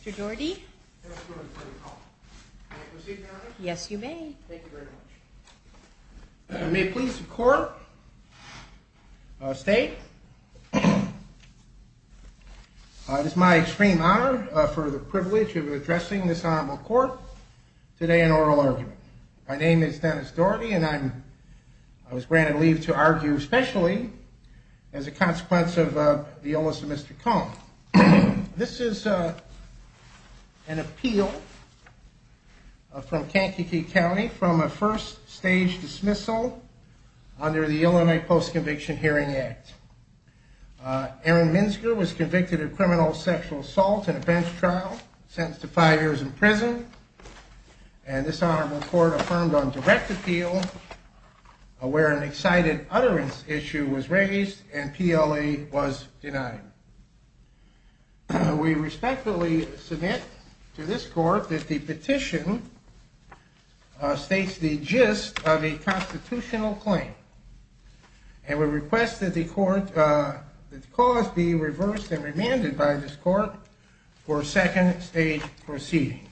Mr. Doherty. Yes, you may. Thank you very much. May it please the court, state. It is my extreme honor for the privilege of addressing this honorable court. Today an oral argument. My name is Dennis Doherty and I was granted leave to argue especially as a consequence of the illness of Mr. Cohn. This is an appeal from Kankakee County from a first stage dismissal under the Illinois Post-Conviction Hearing Act. Aaron Minzghor was convicted of criminal sexual assault in a bench trial, sentenced to five years in prison, and this honorable court affirmed on direct appeal where an excited utterance issue was raised and PLE was denied. We respectfully submit to this court that the petition states the gist of a constitutional claim and we request that the cause be reversed and remanded by this court for second stage proceedings.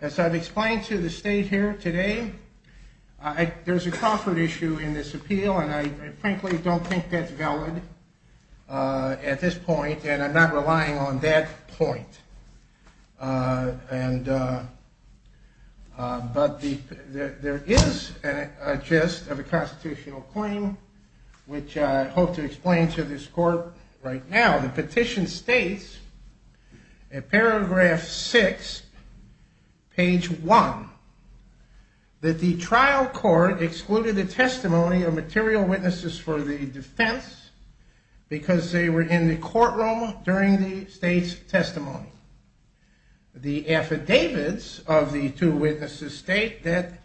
As I've explained to the state here today, there's a Crawford issue in this appeal and I frankly don't think that's valid at this point and I'm not relying on that point. But there is a gist of a constitutional claim which I hope to explain to this court right now. The petition states in paragraph six, page one, that the trial court excluded the testimony of material witnesses for the defense because they were in the courtroom during the state's testimony. The affidavits of the two witnesses state that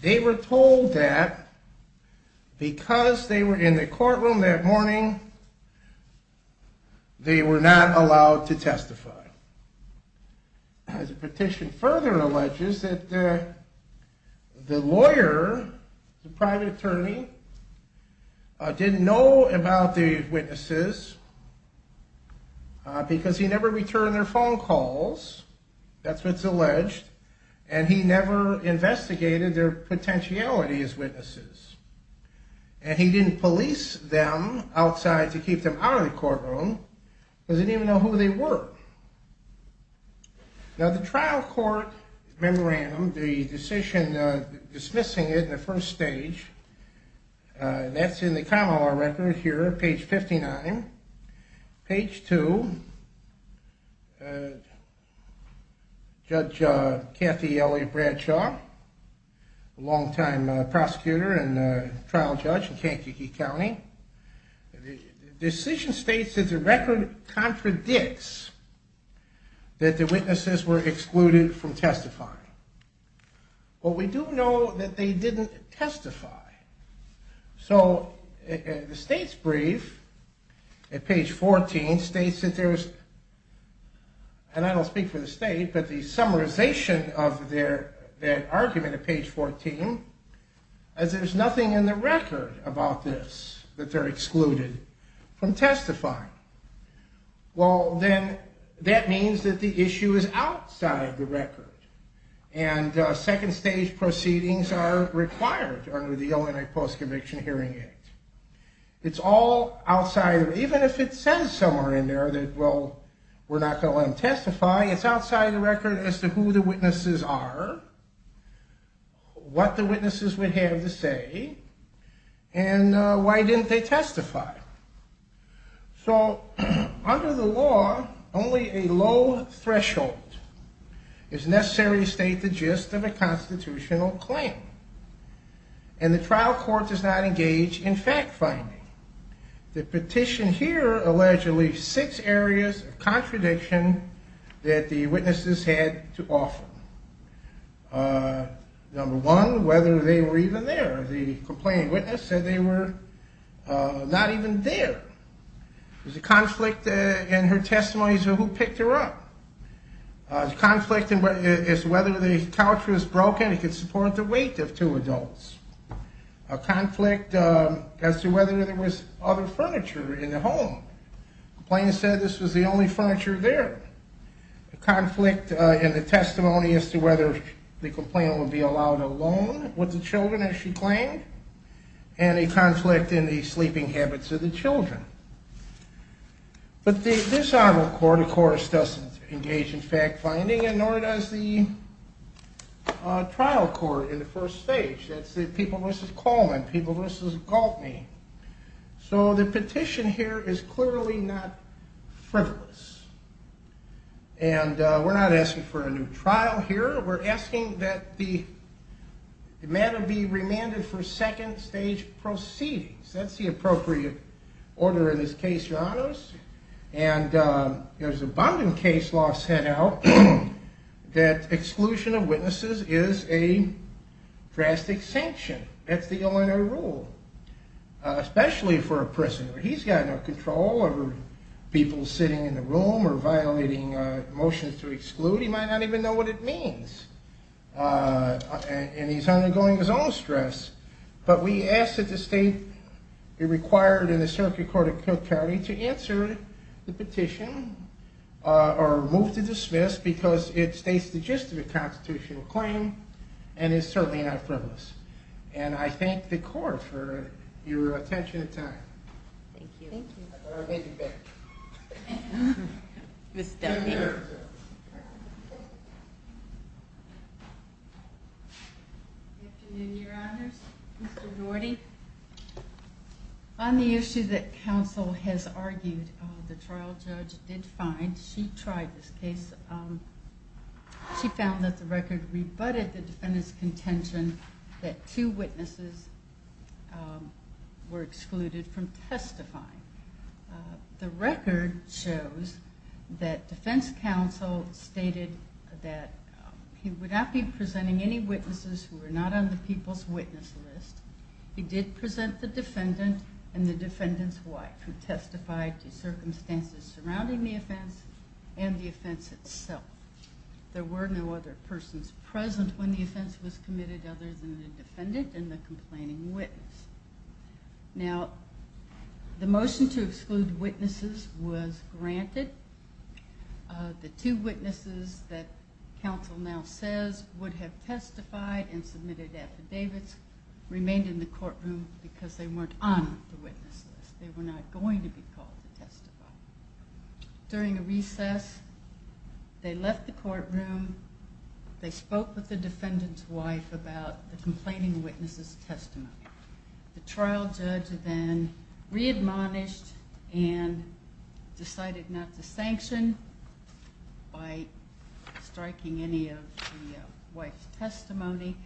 they were told that because they were in the courtroom that morning, they were not allowed to testify. The petition further alleges that the lawyer, the private attorney, didn't know about the witnesses because he never returned their phone calls, that's what's alleged, and he never investigated their potentiality as witnesses. And he didn't police them outside to keep them out of the courtroom, doesn't even know who they were. Now the trial court memorandum, the decision dismissing it in the first stage, that's in the common law record here, page 59. Page two, Judge Kathy Elliott Bradshaw, a long time prosecutor and trial judge in Kankakee County, the decision states that the record contradicts that the witnesses were excluded from testifying. Well, we do know that they didn't testify. So the state's brief at page 14 states that there's, and I don't speak for the state, but the summarization of their argument at page 14 is there's nothing in the record about this, that they're excluded from testifying. Well, then that means that the issue is outside the record. And second stage proceedings are required under the ONI Post-Conviction Hearing Act. It's all outside, even if it says somewhere in there that, well, we're not going to let them testify, it's outside the record as to who the witnesses are, what the witnesses would have to say, and why didn't they testify. So under the law, only a low threshold is necessary to state the gist of a constitutional claim. And the trial court does not engage in fact-finding. The petition here alleged at least six areas of contradiction that the witnesses had to offer. Number one, whether they were even there. The complaining witness said they were not even there. There's a conflict in her testimony as to who picked her up. There's a conflict as to whether the couch was broken and could support the weight of two adults. A conflict as to whether there was other furniture in the home. The complainant said this was the only furniture there. A conflict in the testimony as to whether the complainant would be allowed alone with the children, as she claimed. And a conflict in the sleeping habits of the children. But this arm of court, of course, doesn't engage in fact-finding, and nor does the trial court in the first stage. That's the people, Mrs. Coleman, people, Mrs. Galtney. So the petition here is clearly not frivolous. And we're not asking for a new trial here. We're asking that the matter be remanded for second stage proceedings. That's the appropriate order in this case, your honors. And there's abundant case law set out that exclusion of witnesses is a drastic sanction. That's the Illinois rule, especially for a prisoner. He's got no control over people sitting in the room or violating motions to exclude. He might not even know what it means. And he's undergoing his own stress. But we ask that the state be required in the Circuit Court of Charity to answer the petition or move to dismiss because it states the gist of the constitutional claim and is certainly not frivolous. And I thank the court for your attention and time. Thank you. Thank you. I'll take it back. Ms. Dunning. Good afternoon, your honors. Mr. Norty. On the issue that counsel has argued, the trial judge did find, she tried this case, she found that the record rebutted the defendant's contention that two witnesses were excluded from testifying. The record shows that defense counsel stated that he would not be presenting any witnesses who were not on the people's witness list. He did present the defendant and the defendant's wife who testified to circumstances surrounding the offense and the offense itself. There were no other persons present when the offense was committed other than the defendant and the complaining witness. Now, the motion to exclude witnesses was granted. The two witnesses that counsel now says would have testified and submitted affidavits remained in the courtroom because they weren't on the witness list. They were not going to be called to testify. During a recess, they left the courtroom. They spoke with the defendant's wife about the complaining witness's testimony. The trial judge then readmonished and decided not to sanction by striking any of the wife's testimony.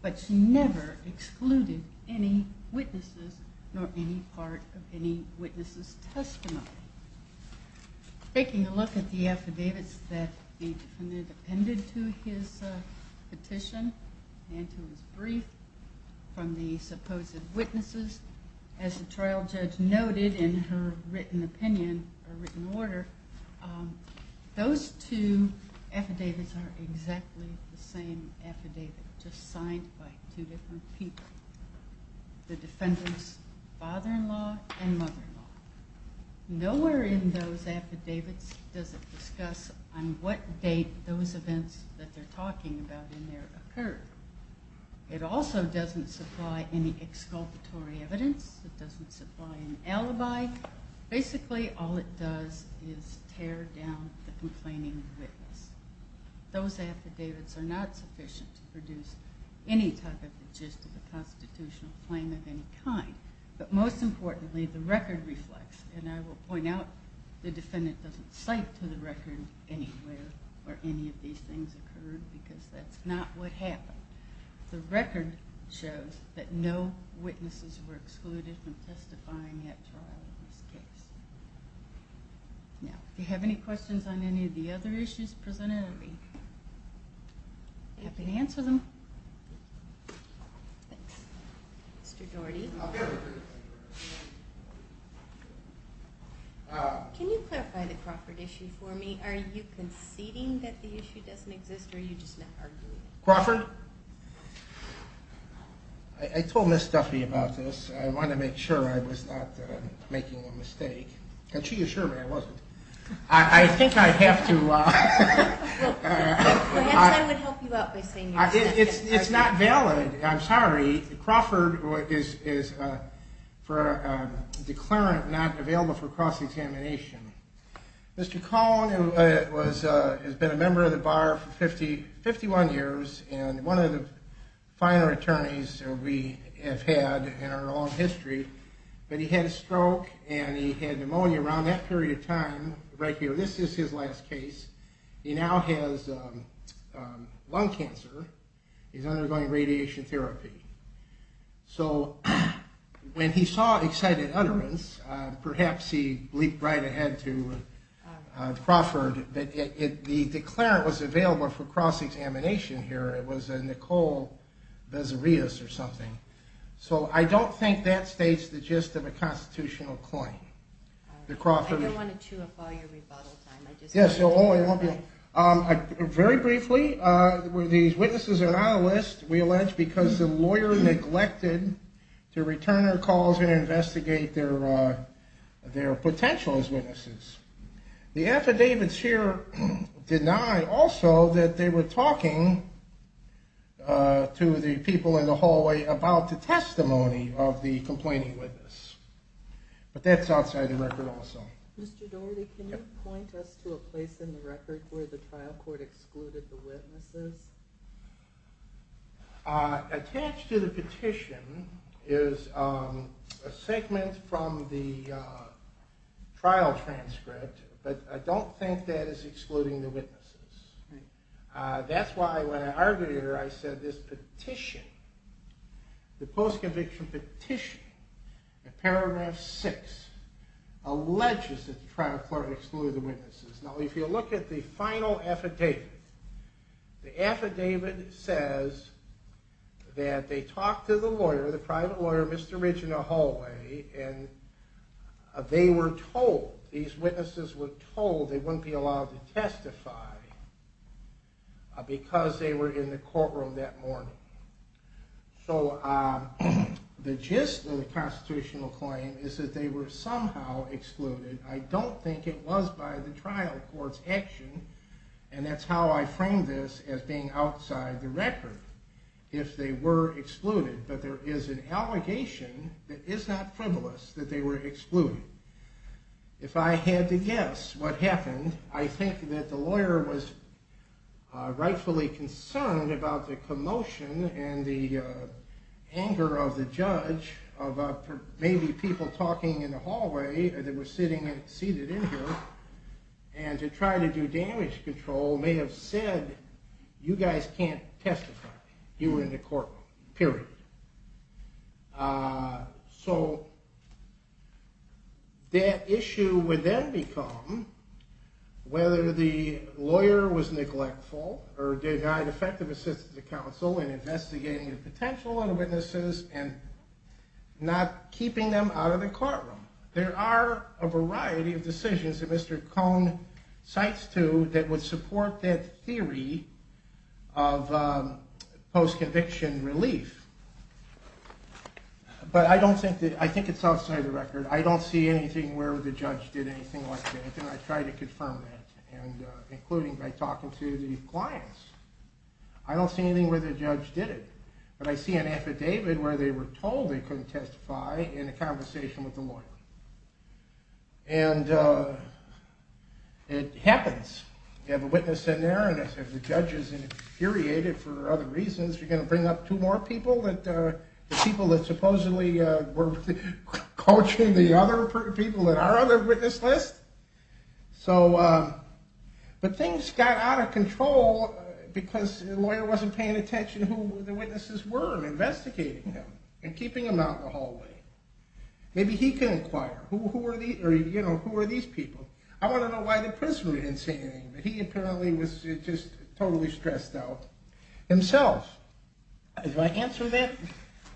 But she never excluded any witnesses nor any part of any witness's testimony. Taking a look at the affidavits that the defendant appended to his petition and to his brief from the supposed witnesses, as the trial judge noted in her written opinion or written order, those two affidavits are exactly the same affidavits. They're just signed by two different people, the defendant's father-in-law and mother-in-law. Nowhere in those affidavits does it discuss on what date those events that they're talking about in there occurred. It also doesn't supply any exculpatory evidence. It doesn't supply an alibi. Basically, all it does is tear down the complaining witness. Those affidavits are not sufficient to produce any type of gist of a constitutional claim of any kind. But most importantly, the record reflects, and I will point out, the defendant doesn't cite to the record anywhere where any of these things occurred because that's not what happened. The record shows that no witnesses were excluded from testifying at trial in this case. Now, if you have any questions on any of the other issues presented, I'll be happy to answer them. Can you clarify the Crawford issue for me? Are you conceding that the issue doesn't exist or are you just not arguing it? Crawford? I told Ms. Duffy about this. I wanted to make sure I was not making a mistake. And she assured me I wasn't. I think I have to... It's not valid. I'm sorry. Crawford is for a declarant not available for cross-examination. Mr. Cohn has been a member of the bar for 51 years and one of the finer attorneys we have had in our long history. But he had a stroke and he had pneumonia around that period of time. This is his last case. He now has lung cancer. He's undergoing radiation therapy. So when he saw excited utterance, perhaps he bleeped right ahead to Crawford that the declarant was available for cross-examination here. It was a Nicole Bezirius or something. So I don't think that states the gist of a constitutional claim. I don't want to chew up all your rebuttal time. Very briefly, these witnesses are not on the list, we allege, because the lawyer neglected to return her calls and investigate their potential as witnesses. The affidavits here deny also that they were talking to the people in the hallway about the testimony of the complaining witness. But that's outside the record also. Mr. Dougherty, can you point us to a place in the record where the trial court excluded the witnesses? Now if you look at the final affidavit, the affidavit says that they talked to the lawyer, the private lawyer, Mr. Ridge in the hallway, and they were told, these witnesses were told they wouldn't be allowed to testify because they were in the courtroom that morning. So the gist of the constitutional claim is that they were somehow excluded. I don't think it was by the trial court's action, and that's how I frame this as being outside the record. If they were excluded, but there is an allegation that is not frivolous that they were excluded. If I had to guess what happened, I think that the lawyer was rightfully concerned about the commotion and the anger of the judge, of maybe people talking in the hallway that were sitting and seated in here, and to try to do damage control may have said, you guys can't testify, you are in the courtroom, period. So that issue would then become whether the lawyer was neglectful or denied effective assistance to the counsel in investigating the potential of the witnesses and not keeping them out of the courtroom. There are a variety of decisions that Mr. Cohn cites to that would support that theory of post-conviction relief, but I think it's outside the record. I don't see anything where the judge did anything like that, and I try to confirm that, including by talking to the clients. I don't see anything where the judge did it, but I see an affidavit where they were told they couldn't testify in a conversation with the lawyer. And it happens. You have a witness in there, and if the judge is infuriated for other reasons, you're going to bring up two more people, the people that supposedly were coaching the other people that are on the witness list? So, but things got out of control because the lawyer wasn't paying attention to who the witnesses were and investigating them and keeping them out in the hallway. Maybe he can inquire, who are these people? I want to know why the prisoner didn't say anything, but he apparently was just totally stressed out. If I answer that,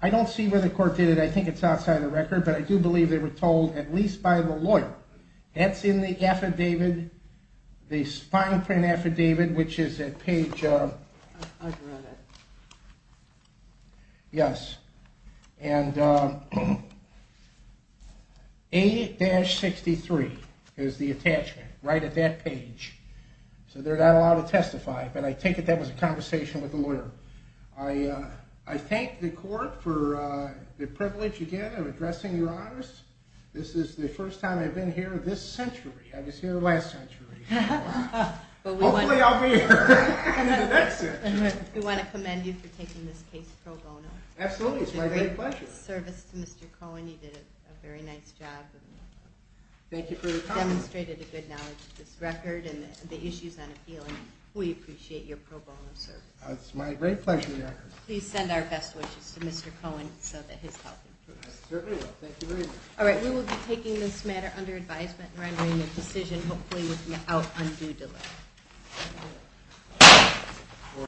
I don't see where the court did it. I think it's outside the record, but I do believe they were told, at least by the lawyer. That's in the affidavit, the fine print affidavit, which is at page, yes, and A-63 is the attachment right at that page. So they're not allowed to testify, but I take it that was a conversation with the lawyer. I thank the court for the privilege, again, of addressing Your Honors. This is the first time I've been here this century. I was here last century. Hopefully I'll be here in the next century. We want to commend you for taking this case pro bono. Absolutely, it's my great pleasure. You did a great service to Mr. Cohen. You did a very nice job. Thank you for the compliment. You demonstrated a good knowledge of this record and the issues on appeal, and we appreciate your pro bono service. It's my great pleasure, Your Honor. Please send our best wishes to Mr. Cohen so that his health improves. I certainly will. Thank you very much. All right, we will be taking this matter under advisement and rendering a decision hopefully without undue delay.